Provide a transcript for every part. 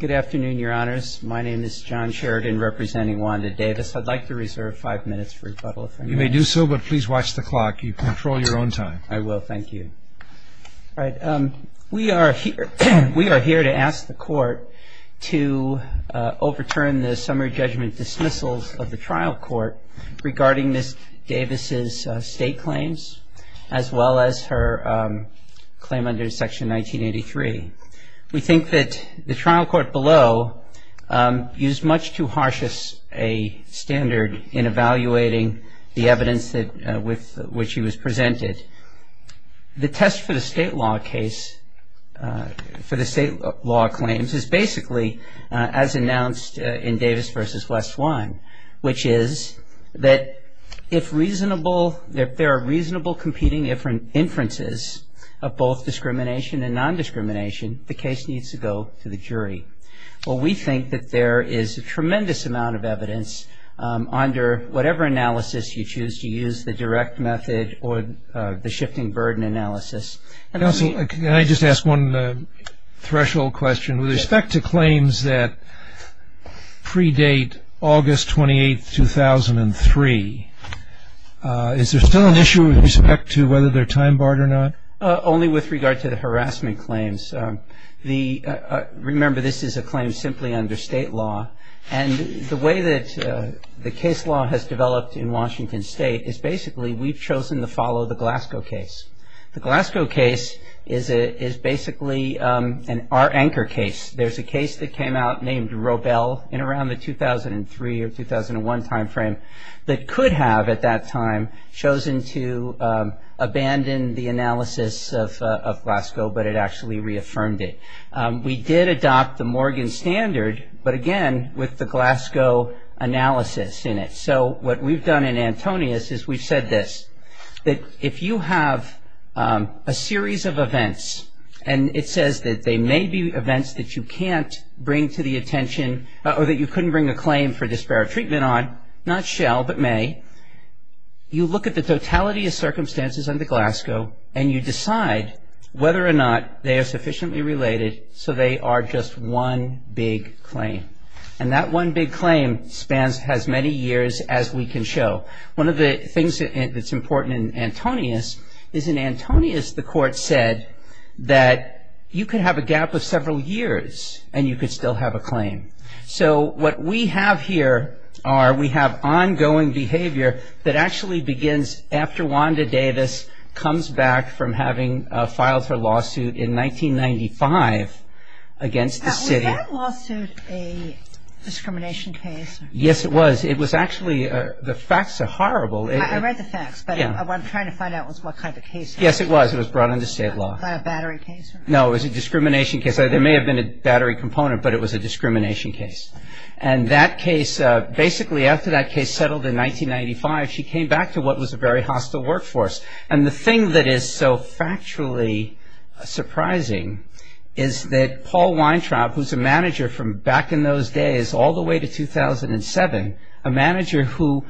Good afternoon, Your Honors. My name is John Sheridan, representing Wanda Davis. I'd like to reserve five minutes for rebuttal, if I may. You may do so, but please watch the clock. You control your own time. I will. Thank you. We are here to ask the Court to overturn the summary judgment dismissals of the trial court regarding Ms. Davis' state claims, as well as her claim under Section 1983. We think that the trial court below used much too harsh a standard in evaluating the evidence with which she was presented. The test for the state law case, for the state law claims, is basically as announced in Davis v. West One, which is that if there are reasonable competing inferences of both discrimination and nondiscrimination, the case needs to go to the jury. Well, we think that there is a tremendous amount of evidence under whatever analysis you choose to use, the direct method or the shifting burden analysis. And also, can I just ask one threshold question? With respect to claims that predate August 28, 2003, is there still an issue with respect to whether they're time barred or not? Only with regard to the harassment claims. Remember, this is a claim simply under state law. And the way that the case law has developed in Washington State is basically we've chosen to follow the Glasgow case. The Glasgow case is basically our anchor case. There's a case that came out named Robel in around the 2003 or 2001 time frame that could have, at that time, chosen to abandon the analysis of Glasgow, but it actually reaffirmed it. We did adopt the Morgan standard, but again, with the Glasgow analysis in it. So what we've done in Antonius is we've said this, that if you have a series of events, and it says that they may be events that you can't bring to the attention or that you couldn't bring a claim for disparate treatment on, not shall, but may, you look at the totality of circumstances under Glasgow, and you decide whether or not they are sufficiently related so they are just one big claim. And that one big claim spans as many years as we can show. One of the things that's important in Antonius is in Antonius the court said that you could have a gap of several years and you could still have a claim. So what we have here are we have ongoing behavior that actually begins after Wanda Davis comes back from having filed her lawsuit in 1995 against the city. Was that lawsuit a discrimination case? Yes, it was. It was actually, the facts are horrible. I read the facts, but what I'm trying to find out was what kind of case it was. Yes, it was. It was brought into state law. Was that a battery case? No, it was a discrimination case. There may have been a battery component, but it was a discrimination case. And that case, basically after that case settled in 1995, she came back to what was a very hostile workforce. And the thing that is so factually surprising is that Paul Weintraub, who's a manager from back in those days all the way to 2007, a manager who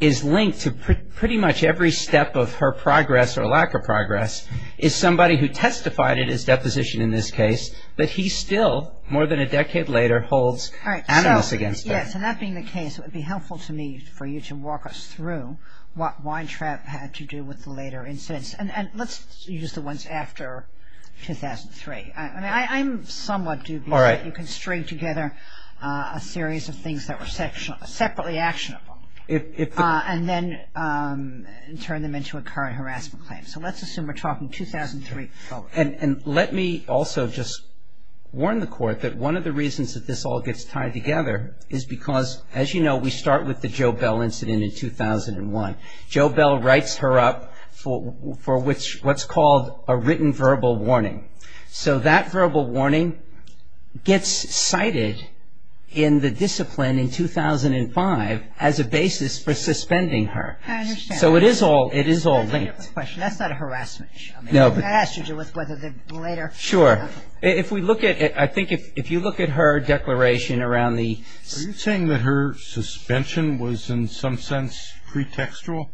is linked to pretty much every step of her progress or lack of progress, is somebody who testified at his deposition in this case, but he still more than a decade later holds animus against her. Yes, and that being the case, it would be helpful to me for you to walk us through what Weintraub had to do with the later incidents. And let's use the ones after 2003. I'm somewhat dubious that you can string together a series of things that were separately actionable and then turn them into a current harassment claim. So let's assume we're talking 2003. And let me also just warn the Court that one of the reasons that this all gets tied together is because, as you know, we start with the Jo Bell incident in 2001. Jo Bell writes her up for what's called a written verbal warning. So that verbal warning gets cited in the discipline in 2005 as a basis for suspending her. I understand. So it is all linked. That's not a harassment issue. No. That has to do with whether the later... If we look at it, I think if you look at her declaration around the... Are you saying that her suspension was in some sense pretextual?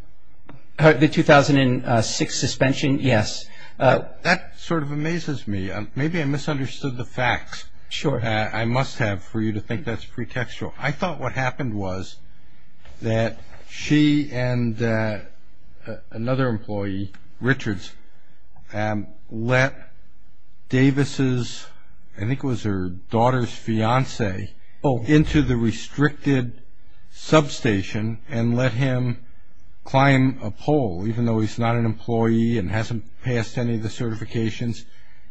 The 2006 suspension? Yes. That sort of amazes me. Maybe I misunderstood the facts. Sure. I must have for you to think that's pretextual. I thought what happened was that she and another employee, Richards, let Davis's, I think it was her daughter's fiancee, into the restricted substation and let him climb a pole, even though he's not an employee and hasn't passed any of the certifications.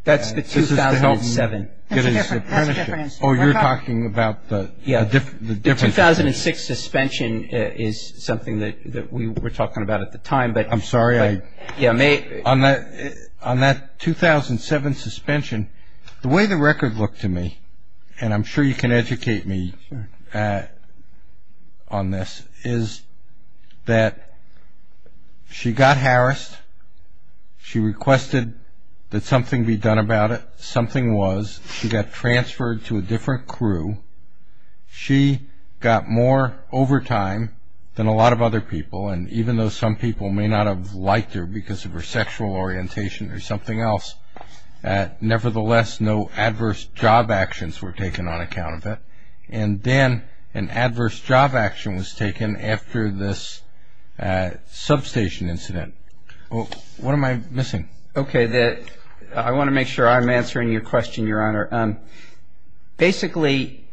That's the 2007. That's a difference. That's a difference. Oh, you're talking about the difference. The 2006 suspension is something that we were talking about at the time. I'm sorry. On that 2007 suspension, the way the record looked to me, and I'm sure you can educate me on this, is that she got harassed, she requested that something be done about it. Something was. She got transferred to a different crew. She got more overtime than a lot of other people, and even though some people may not have liked her because of her sexual orientation or something else, nevertheless, no adverse job actions were taken on account of it. And then an adverse job action was taken after this substation incident. What am I missing? Okay. I want to make sure I'm answering your question, Your Honor. Basically,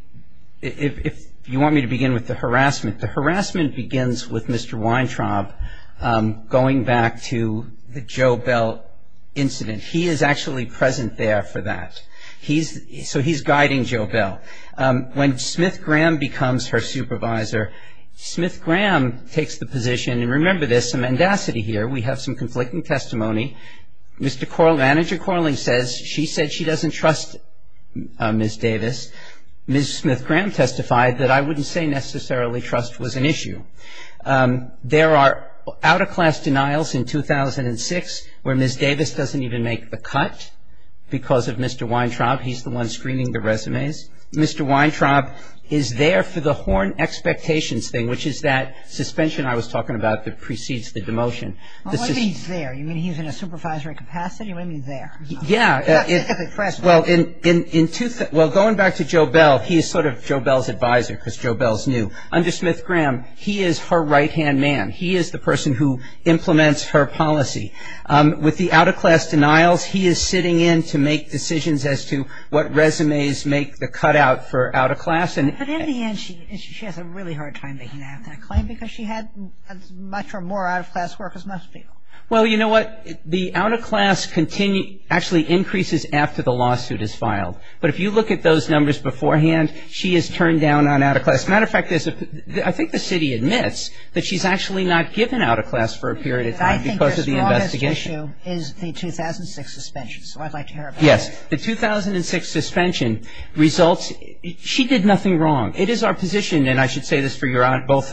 if you want me to begin with the harassment, the harassment begins with Mr. Weintraub going back to the Joe Bell incident. He is actually present there for that. So he's guiding Joe Bell. When Smith Graham becomes her supervisor, Smith Graham takes the position, and remember there's some mendacity here. We have some conflicting testimony. Mr. Corling, Manager Corling says she said she doesn't trust Ms. Davis. Ms. Smith Graham testified that I wouldn't say necessarily trust was an issue. There are out-of-class denials in 2006 where Ms. Davis doesn't even make the cut because of Mr. Weintraub. He's the one screening the resumes. Mr. Weintraub is there for the horn expectations thing, which is that suspension I was talking about that precedes the demotion. What do you mean he's there? You mean he's in a supervisory capacity? What do you mean there? Yeah. Well, going back to Joe Bell, he's sort of Joe Bell's advisor because Joe Bell's new. Under Smith Graham, he is her right-hand man. He is the person who implements her policy. With the out-of-class denials, he is sitting in to make decisions as to what resumes make the cutout for out-of-class. But in the end, she has a really hard time making that claim because she had as much or more out-of-class work as most people. Well, you know what? The out-of-class actually increases after the lawsuit is filed. But if you look at those numbers beforehand, she is turned down on out-of-class. As a matter of fact, I think the city admits that she's actually not given out-of-class for a period of time because of the investigation. I think the strongest issue is the 2006 suspension. So I'd like to hear about that. Yes. The 2006 suspension results ñ she did nothing wrong. It is our position, and I should say this for both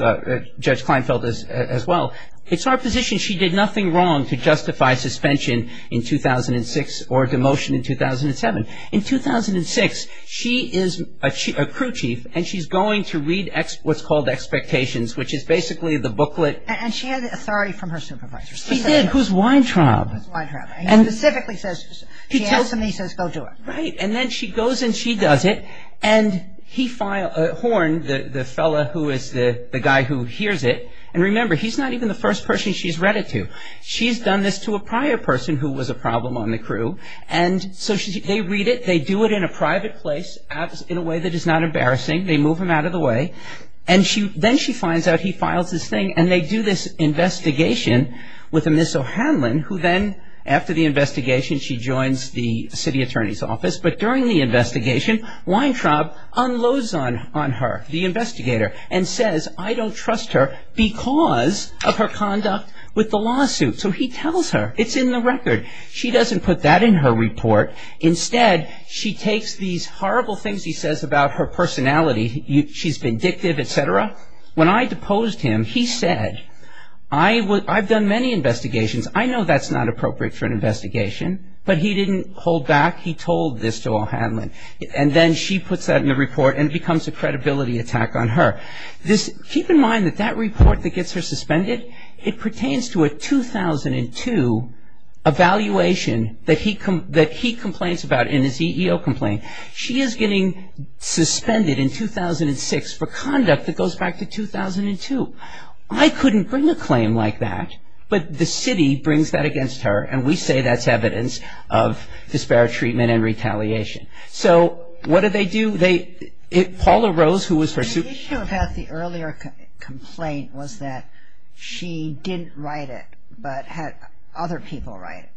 Judge Kleinfeld as well, it's our position she did nothing wrong to justify suspension in 2006 or demotion in 2007. In 2006, she is a crew chief, and she's going to read what's called expectations, which is basically the booklet. And she had authority from her supervisors. She did. Who's Weintraub? Who's Weintraub. He specifically says, he tells them, he says, go do it. Right. And then she goes and she does it. And he filed a horn, the fellow who is the guy who hears it. And remember, he's not even the first person she's read it to. She's done this to a prior person who was a problem on the crew. And so they read it. They do it in a private place in a way that is not embarrassing. They move him out of the way. And then she finds out he files this thing. And they do this investigation with a Ms. O'Hanlon who then, after the investigation, she joins the city attorney's office. But during the investigation, Weintraub unloads on her, the investigator, and says, I don't trust her because of her conduct with the lawsuit. So he tells her. It's in the record. She doesn't put that in her report. Instead, she takes these horrible things he says about her personality. She's vindictive, et cetera. When I deposed him, he said, I've done many investigations. I know that's not appropriate for an investigation. But he didn't hold back. He told this to O'Hanlon. And then she puts that in the report and it becomes a credibility attack on her. Keep in mind that that report that gets her suspended, it pertains to a 2002 evaluation that he complains about in his EEO complaint. She is getting suspended in 2006 for conduct that goes back to 2002. I couldn't bring a claim like that. But the city brings that against her. And we say that's evidence of disparate treatment and retaliation. So what do they do? Paula Rose, who was her suit. The issue about the earlier complaint was that she didn't write it, but had other people write it.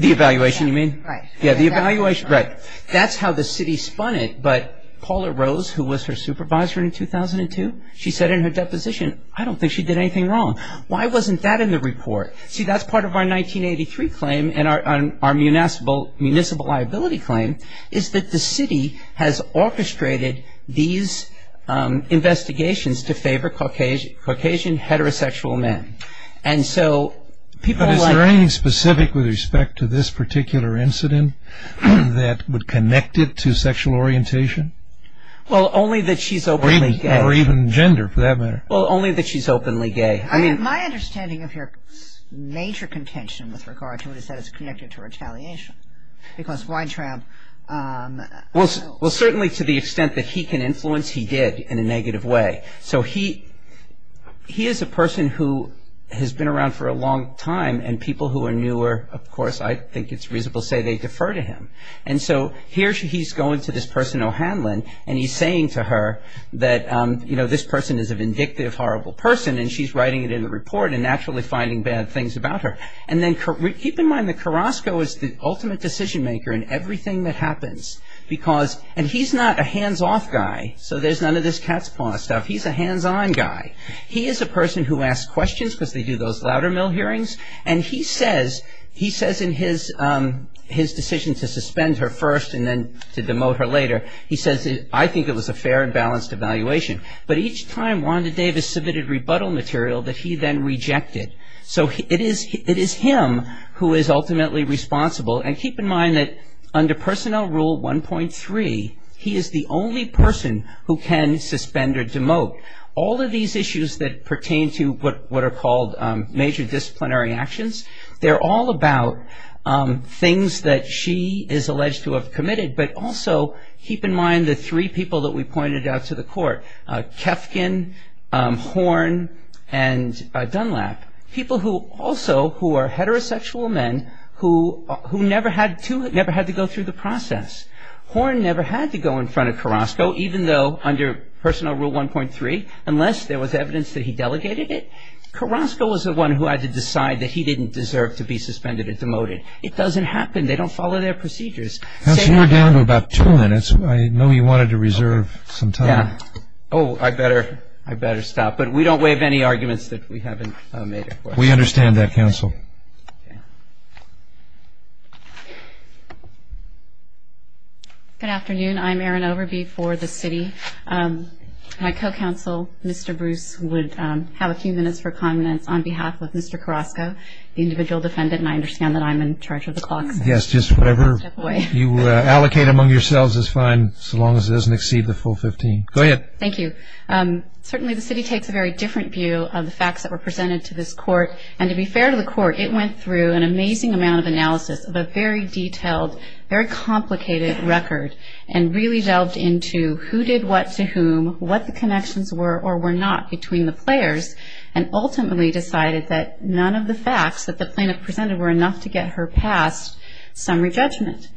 The evaluation, you mean? Right. Yeah, the evaluation. Right. That's how the city spun it. But Paula Rose, who was her supervisor in 2002, she said in her deposition, I don't think she did anything wrong. Why wasn't that in the report? See, that's part of our 1983 claim and our municipal liability claim, is that the city has orchestrated these investigations to favor Caucasian heterosexual men. But is there anything specific with respect to this particular incident that would connect it to sexual orientation? Well, only that she's openly gay. Or even gender, for that matter. Well, only that she's openly gay. My understanding of your major contention with regard to it is that it's connected to retaliation. Because Weintraub knows. Well, certainly to the extent that he can influence, he did in a negative way. So he is a person who has been around for a long time. And people who are newer, of course, I think it's reasonable to say they defer to him. And so here he's going to this person, O'Hanlon, and he's saying to her that, you know, this person is a vindictive, horrible person. And she's writing it in the report and naturally finding bad things about her. And then keep in mind that Carrasco is the ultimate decision maker in everything that happens. And he's not a hands-off guy. So there's none of this cat's paw stuff. He's a hands-on guy. He is a person who asks questions because they do those louder mill hearings. And he says in his decision to suspend her first and then to demote her later, he says, I think it was a fair and balanced evaluation. But each time Wanda Davis submitted rebuttal material that he then rejected. So it is him who is ultimately responsible. And keep in mind that under Personnel Rule 1.3, he is the only person who can suspend or demote. All of these issues that pertain to what are called major disciplinary actions, they're all about things that she is alleged to have committed. But also keep in mind the three people that we pointed out to the court, Kefkin, Horn, and Dunlap, people who also who are heterosexual men who never had to go through the process. Horn never had to go in front of Carrasco, even though under Personnel Rule 1.3, unless there was evidence that he delegated it, Carrasco was the one who had to decide that he didn't deserve to be suspended or demoted. It doesn't happen. They don't follow their procedures. That's more than about two minutes. I know you wanted to reserve some time. Oh, I better stop. But we don't waive any arguments that we haven't made before. We understand that, counsel. Good afternoon. I'm Erin Overby for the city. My co-counsel, Mr. Bruce, would have a few minutes for comments on behalf of Mr. Carrasco, the individual defendant, and I understand that I'm in charge of the clock. Yes, just whatever you allocate among yourselves is fine so long as it doesn't exceed the full 15. Go ahead. Thank you. Certainly the city takes a very different view of the facts that were presented to this court, and to be fair to the court, it went through an amazing amount of analysis of a very detailed, very complicated record and really delved into who did what to whom, what the connections were or were not between the players, and ultimately decided that none of the facts that the plaintiff presented were enough to get her past summary judgment.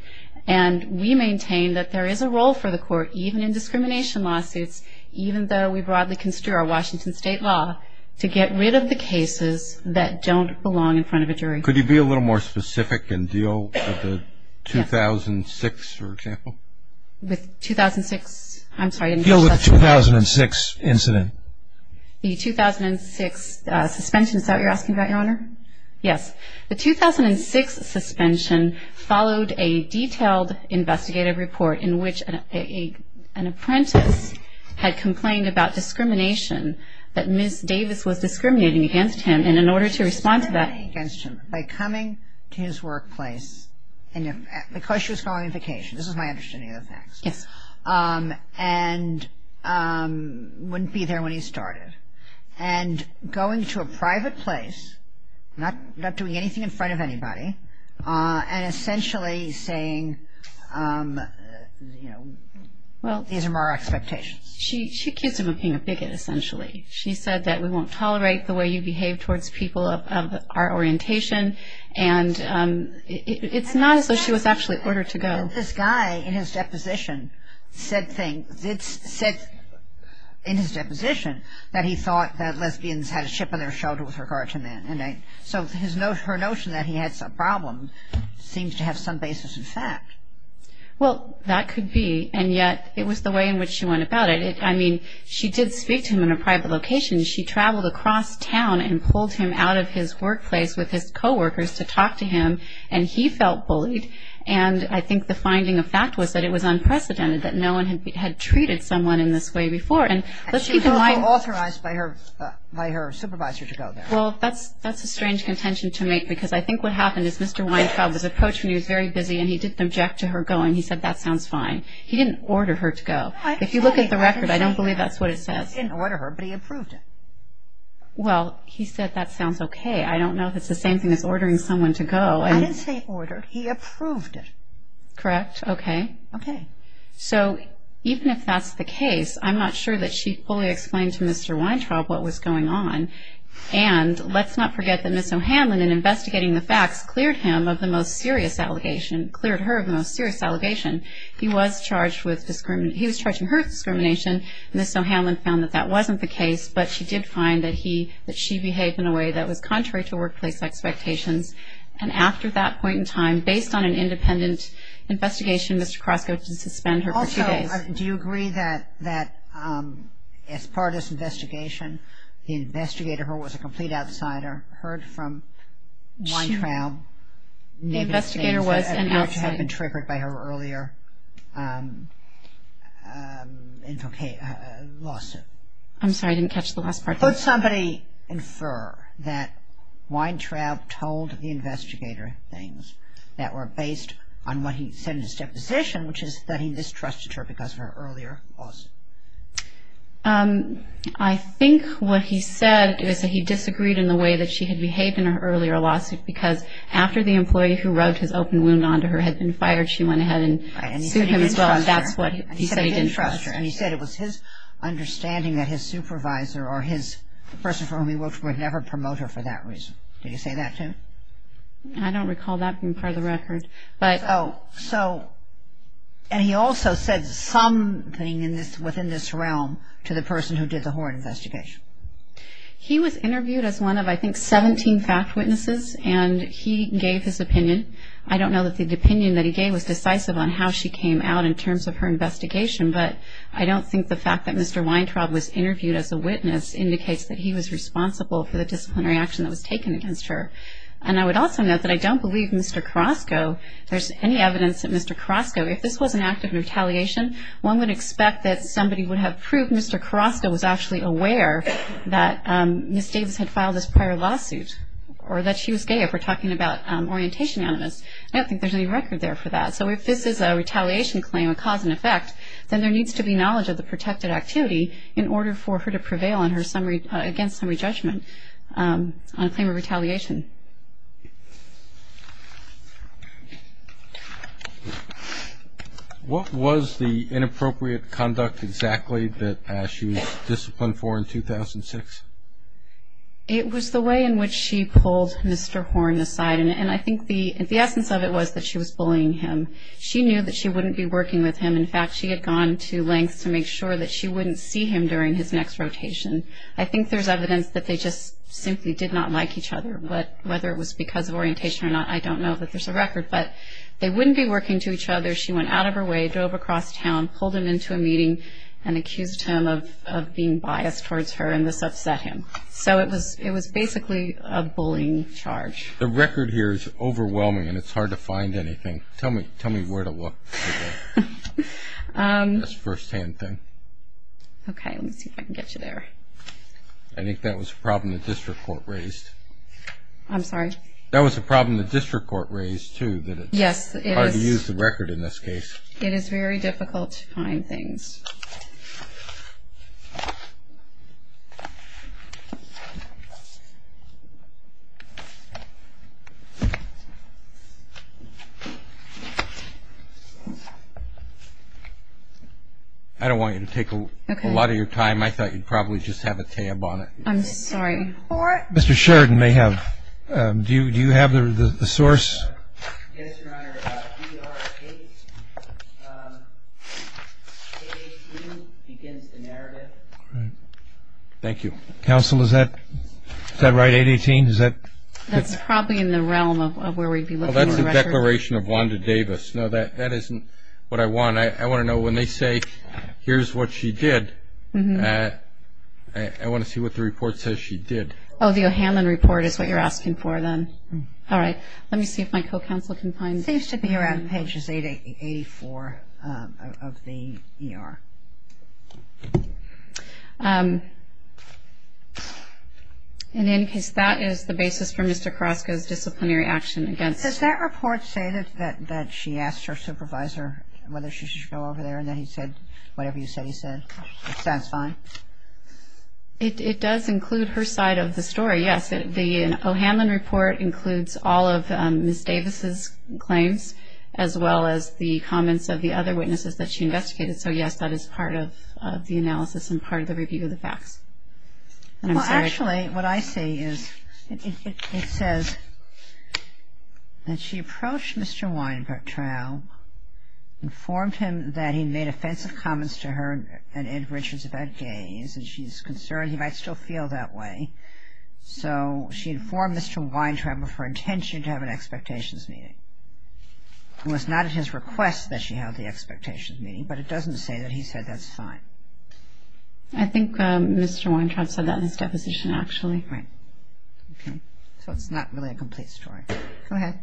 And we maintain that there is a role for the court, even in discrimination lawsuits, even though we broadly construe our Washington State law, to get rid of the cases that don't belong in front of a jury. Could you be a little more specific and deal with the 2006, for example? With 2006? I'm sorry. Deal with the 2006 incident. The 2006 suspension. Is that what you're asking about, Your Honor? Yes. The 2006 suspension followed a detailed investigative report in which an apprentice had complained about discrimination that Ms. Davis was discriminating against him, and in order to respond to that She was discriminating against him by coming to his workplace because she was going on vacation. This is my understanding of the facts. Yes. And wouldn't be there when he started. And going to a private place, not doing anything in front of anybody, and essentially saying, you know, these are my expectations. She accused him of being a bigot, essentially. She said that we won't tolerate the way you behave towards people of our orientation, and it's not as though she was actually ordered to go. This guy, in his deposition, said things. It's said in his deposition that he thought that lesbians had a chip on their shoulder with regard to men. So her notion that he had some problem seems to have some basis in fact. Well, that could be, and yet it was the way in which she went about it. I mean, she did speak to him in a private location. She traveled across town and pulled him out of his workplace with his coworkers to talk to him, and he felt bullied, and I think the finding of fact was that it was unprecedented, that no one had treated someone in this way before. And she was also authorized by her supervisor to go there. Well, that's a strange contention to make, because I think what happened is Mr. Weintraub was approaching her, he was very busy, and he didn't object to her going. He said, that sounds fine. He didn't order her to go. If you look at the record, I don't believe that's what it says. He didn't order her, but he approved it. Well, he said, that sounds okay. I don't know if it's the same thing as ordering someone to go. I didn't say order. He approved it. Correct. Okay. Okay. So even if that's the case, I'm not sure that she fully explained to Mr. Weintraub what was going on, and let's not forget that Ms. O'Hanlon, in investigating the facts, cleared him of the most serious allegation, cleared her of the most serious allegation. He was charged with discrimination. He was charged with her discrimination. Ms. O'Hanlon found that that wasn't the case, but she did find that he, that she behaved in a way that was contrary to workplace expectations, and after that point in time, based on an independent investigation, Mr. Krosko didn't suspend her for two days. Also, do you agree that as part of this investigation, the investigator, who was a complete outsider, heard from Weintraub? The investigator was an outsider. Which had been triggered by her earlier lawsuit. I'm sorry, I didn't catch the last part. Could somebody infer that Weintraub told the investigator things that were based on what he said in his deposition, which is that he distrusted her because of her earlier lawsuit? I think what he said is that he disagreed in the way that she had behaved in her earlier lawsuit because after the employee who rubbed his open wound onto her had been fired, she went ahead and sued him as well, and that's what he said he didn't trust her. And he said it was his understanding that his supervisor or the person for whom he worked would never promote her for that reason. Did he say that too? I don't recall that being part of the record. So, and he also said something within this realm to the person who did the horrid investigation. He was interviewed as one of, I think, 17 fact witnesses, and he gave his opinion. I don't know that the opinion that he gave was decisive on how she came out in terms of her investigation, but I don't think the fact that Mr. Weintraub was interviewed as a witness indicates that he was responsible for the disciplinary action that was taken against her. And I would also note that I don't believe Mr. Carrasco, there's any evidence that Mr. Carrasco, if this was an act of retaliation, one would expect that somebody would have proved Mr. Carrasco was actually aware that Ms. Davis had filed this prior lawsuit or that she was gay if we're talking about orientation animus. I don't think there's any record there for that. So if this is a retaliation claim, a cause and effect, then there needs to be knowledge of the protected activity in order for her to prevail against summary judgment on a claim of retaliation. What was the inappropriate conduct exactly that she was disciplined for in 2006? It was the way in which she pulled Mr. Horn aside, and I think the essence of it was that she was bullying him. She knew that she wouldn't be working with him. In fact, she had gone to lengths to make sure that she wouldn't see him during his next rotation. I think there's evidence that they just simply did not like each other. Whether it was because of orientation or not, I don't know, but there's a record. But they wouldn't be working to each other. She went out of her way, drove across town, pulled him into a meeting, and accused him of being biased towards her, and this upset him. So it was basically a bullying charge. The record here is overwhelming, and it's hard to find anything. Tell me where to look for that. That's a first-hand thing. Okay, let me see if I can get you there. I think that was a problem the district court raised. I'm sorry? That was a problem the district court raised, too, that it's hard to use the record in this case. It is very difficult to find things. I don't want you to take a lot of your time. I thought you'd probably just have a tab on it. I'm sorry. Mr. Sheridan may have. Do you have the source? Yes, Your Honor. DR-8. 818 begins the narrative. Thank you. Counsel, is that right, 818? That's probably in the realm of where we'd be looking for records. That's a declaration of Wanda Davis. No, that isn't what I want. I want to know when they say, here's what she did, I want to see what the report says she did. Oh, the O'Hanlon report is what you're asking for then. All right. Let me see if my co-counsel can find it. It seems to be around pages 84 of the ER. And in any case, that is the basis for Mr. Carrasco's disciplinary action against him. Does that report say that she asked her supervisor whether she should go over there and then he said whatever you said he said? Does that sound fine? It does include her side of the story, yes. The O'Hanlon report includes all of Ms. Davis' claims as well as the comments of the other witnesses that she investigated. So, yes, that is part of the analysis and part of the review of the facts. Well, actually, what I see is it says that she approached Mr. Weintraub, informed him that he made offensive comments to her and Ed Richards about gays and she's concerned he might still feel that way. So she informed Mr. Weintraub of her intention to have an expectations meeting. It was not at his request that she held the expectations meeting, but it doesn't say that he said that's fine. I think Mr. Weintraub said that in his deposition, actually. Right. Okay. So it's not really a complete story. Go ahead.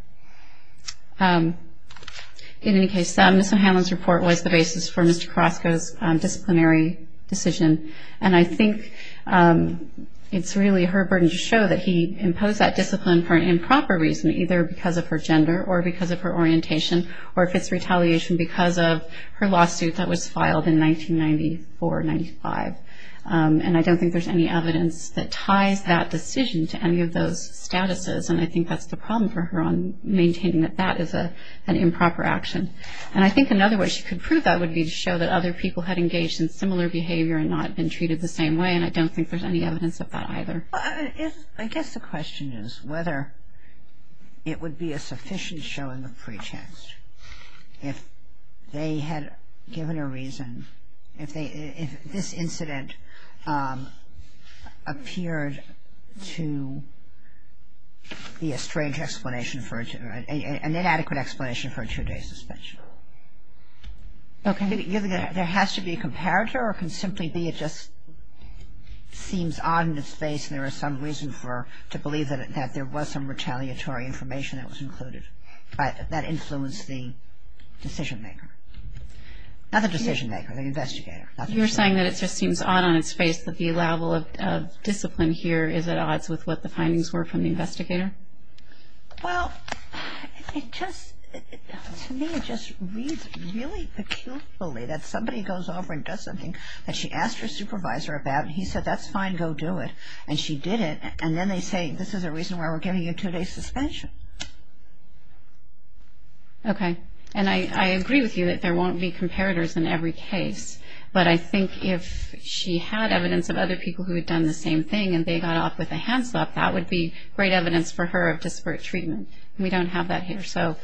In any case, Ms. O'Hanlon's report was the basis for Mr. Carrasco's disciplinary decision, and I think it's really her burden to show that he imposed that discipline for an improper reason, either because of her gender or because of her orientation or if it's retaliation because of her lawsuit that was filed in 1994-95. And I don't think there's any evidence that ties that decision to any of those statuses, and I think that's the problem for her on maintaining that that is an improper action. And I think another way she could prove that would be to show that other people had engaged in similar behavior and not been treated the same way, and I don't think there's any evidence of that either. I guess the question is whether it would be a sufficient showing of pretext if they had given a reason, if this incident appeared to be a strange explanation for, an inadequate explanation for a two-day suspension. Okay. Do you think there has to be a comparator or can simply be it just seems odd in its face and there is some reason to believe that there was some retaliatory information that was included that influenced the decision-maker? Not the decision-maker, the investigator. You're saying that it just seems odd on its face that the level of discipline here Well, to me it just reads really peculiarly that somebody goes over and does something that she asked her supervisor about and he said, that's fine, go do it. And she did it, and then they say, this is the reason why we're giving you a two-day suspension. Okay. And I agree with you that there won't be comparators in every case, but I think if she had evidence of other people who had done the same thing and they got off with a hand slap, that would be great evidence for her of disparate treatment. We don't have that here. So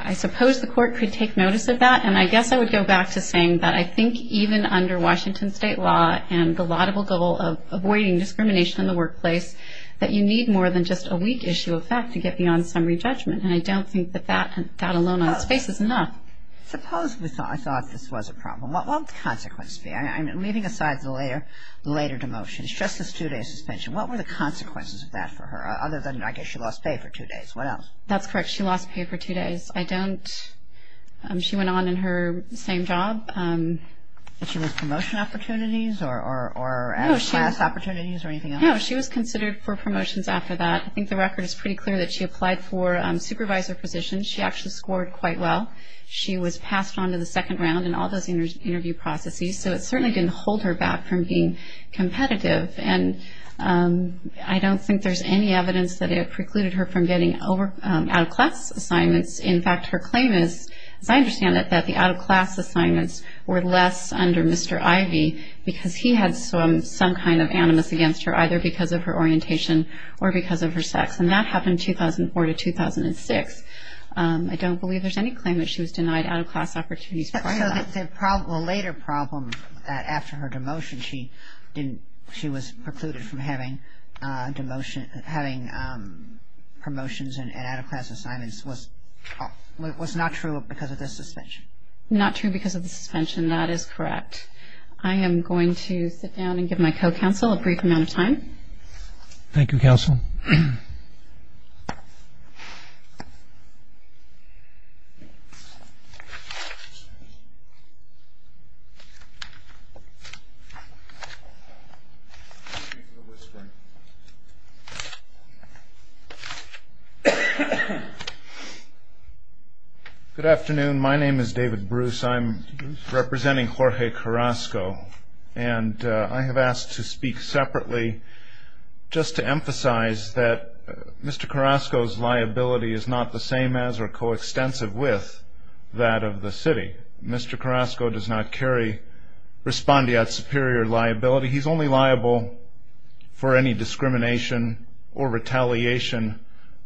I suppose the court could take notice of that. And I guess I would go back to saying that I think even under Washington State law and the laudable goal of avoiding discrimination in the workplace, that you need more than just a weak issue of fact to get beyond summary judgment. And I don't think that that alone on its face is enough. Suppose we thought this was a problem. What would the consequence be? I'm leaving aside the later demotion. It's just this two-day suspension. What were the consequences of that for her, other than I guess she lost pay for two days. What else? That's correct. She lost pay for two days. I don't ‑‑ she went on in her same job. Was she with promotion opportunities or added class opportunities or anything else? No, she was considered for promotions after that. I think the record is pretty clear that she applied for supervisor positions. She actually scored quite well. She was passed on to the second round in all those interview processes. So it certainly didn't hold her back from being competitive. And I don't think there's any evidence that it precluded her from getting out-of-class assignments. In fact, her claim is, as I understand it, that the out-of-class assignments were less under Mr. Ivey because he had some kind of animus against her, either because of her orientation or because of her sex. And that happened in 2004 to 2006. I don't believe there's any claim that she was denied out-of-class opportunities for that. So the later problem after her demotion, she was precluded from having promotions and out-of-class assignments was not true because of the suspension. Not true because of the suspension. That is correct. I am going to sit down and give my co‑counsel a brief amount of time. Thank you, counsel. Thank you. Good afternoon. My name is David Bruce. I'm representing Jorge Carrasco. And I have asked to speak separately just to emphasize that Mr. Carrasco's liability is not the same as or coextensive with that of the city. Mr. Carrasco does not carry respondeat superior liability. He's only liable for any discrimination or retaliation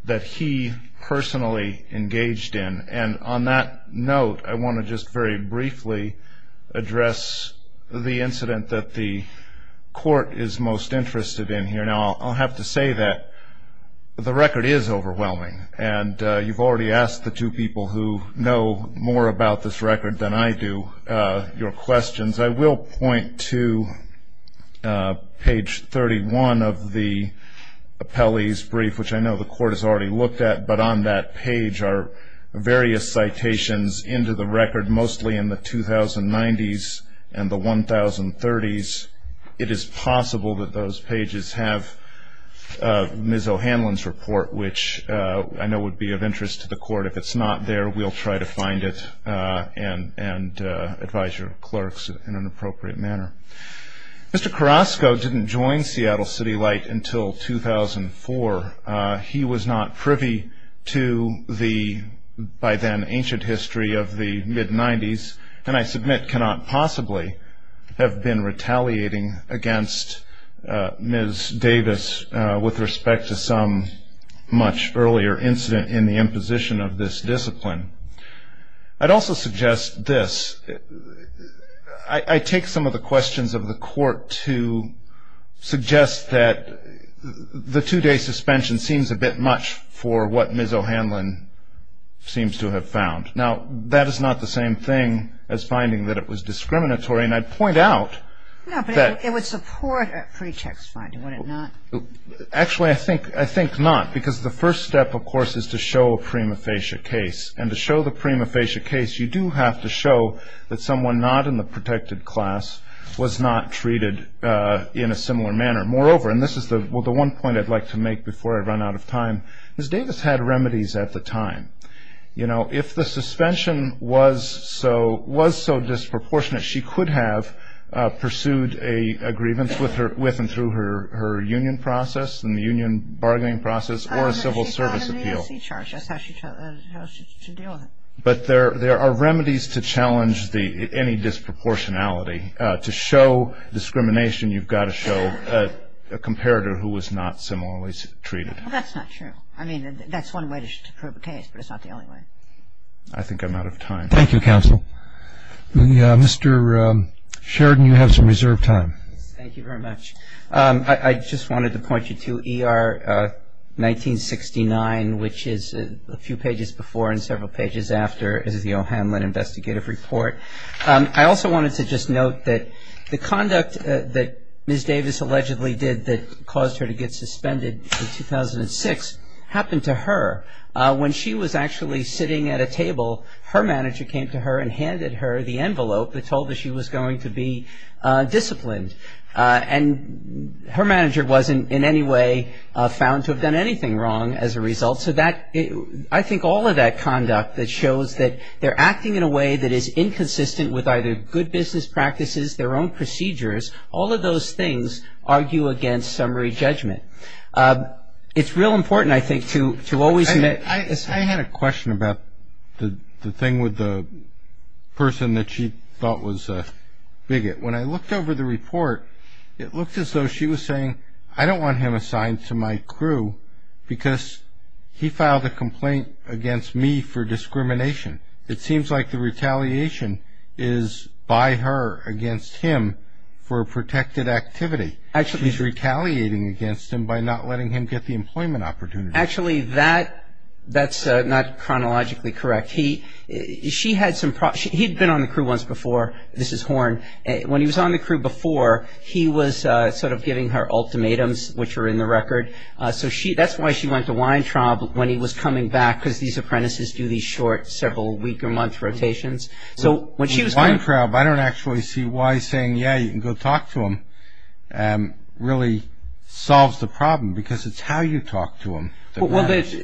that he personally engaged in. And on that note, I want to just very briefly address the incident that the court is most interested in here. Now, I'll have to say that the record is overwhelming. And you've already asked the two people who know more about this record than I do your questions. I will point to page 31 of the appellee's brief, which I know the court has already looked at, but on that page are various citations into the record, mostly in the 2090s and the 1030s. It is possible that those pages have Ms. O'Hanlon's report, which I know would be of interest to the court. If it's not there, we'll try to find it and advise your clerks in an appropriate manner. Mr. Carrasco didn't join Seattle City Light until 2004. He was not privy to the by then ancient history of the mid-90s, and I submit cannot possibly have been retaliating against Ms. Davis with respect to some much earlier incident in the imposition of this discipline. I'd also suggest this. I take some of the questions of the court to suggest that the two-day suspension seems a bit much for what Ms. O'Hanlon seems to have found. Now, that is not the same thing as finding that it was discriminatory. And I'd point out that- No, but it would support a pretext finding, would it not? Actually, I think not, because the first step, of course, is to show a prima facie case. And to show the prima facie case, you do have to show that someone not in the protected class was not treated in a similar manner. Moreover, and this is the one point I'd like to make before I run out of time, Ms. Davis had remedies at the time. You know, if the suspension was so disproportionate, she could have pursued a grievance with and through her union process and the union bargaining process or a civil service appeal. That's how she charged. That's how she chose to deal with it. But there are remedies to challenge any disproportionality. To show discrimination, you've got to show a comparator who was not similarly treated. Well, that's not true. I mean, that's one way to prove a case, but it's not the only way. I think I'm out of time. Thank you, counsel. Mr. Sheridan, you have some reserved time. Thank you very much. I just wanted to point you to ER 1969, which is a few pages before and several pages after the O'Hanlon investigative report. I also wanted to just note that the conduct that Ms. Davis allegedly did that caused her to get suspended in 2006 happened to her. When she was actually sitting at a table, her manager came to her and handed her the envelope that told her she was going to be disciplined. And her manager wasn't in any way found to have done anything wrong as a result. So I think all of that conduct that shows that they're acting in a way that is inconsistent with either good business practices, their own procedures, all of those things argue against summary judgment. It's real important, I think, to always admit. I had a question about the thing with the person that she thought was a bigot. When I looked over the report, it looked as though she was saying, I don't want him assigned to my crew because he filed a complaint against me for discrimination. It seems like the retaliation is by her against him for a protected activity. She's retaliating against him by not letting him get the employment opportunity. Actually, that's not chronologically correct. He'd been on the crew once before. This is Horn. When he was on the crew before, he was sort of giving her ultimatums, which are in the record. So that's why she went to Weintraub when he was coming back, because these apprentices do these short, several-week-or-month rotations. Weintraub, I don't actually see why saying, yeah, you can go talk to him, really solves the problem, because it's how you talk to him that matters.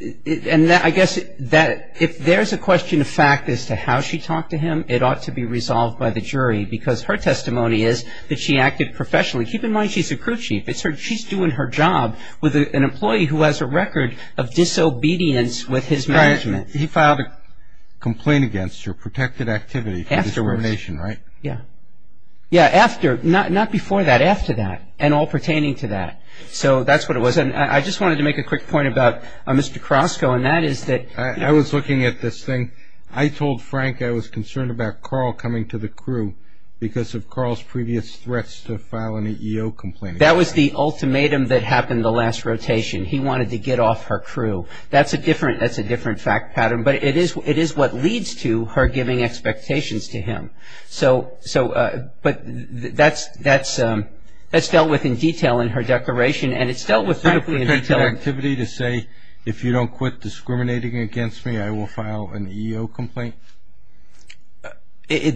I guess if there's a question of fact as to how she talked to him, it ought to be resolved by the jury, because her testimony is that she acted professionally. Keep in mind she's a crew chief. She's doing her job with an employee who has a record of disobedience with his management. He filed a complaint against her, protected activity for discrimination, right? Afterwards. Yeah. Yeah, after. Not before that, after that, and all pertaining to that. So that's what it was. I just wanted to make a quick point about Mr. Krosko, and that is that. I was looking at this thing. I told Frank I was concerned about Carl coming to the crew because of Carl's previous threats to file an EEO complaint against him. That was the ultimatum that happened the last rotation. He wanted to get off her crew. That's a different fact pattern, but it is what leads to her giving expectations to him. But that's dealt with in detail in her declaration, and it's dealt with beautifully in detail. Is that protected activity to say, if you don't quit discriminating against me I will file an EEO complaint?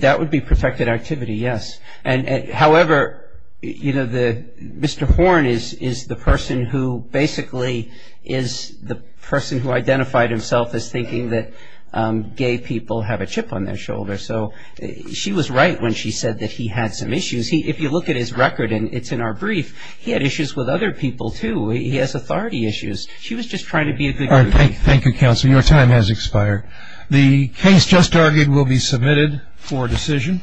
That would be protected activity, yes. However, you know, Mr. Horn is the person who basically is the person who identified himself as thinking that gay people have a chip on their shoulder. So she was right when she said that he had some issues. If you look at his record, and it's in our brief, he had issues with other people, too. He has authority issues. She was just trying to be a good group. All right. Thank you, counsel. Your time has expired. The case just argued will be submitted for decision.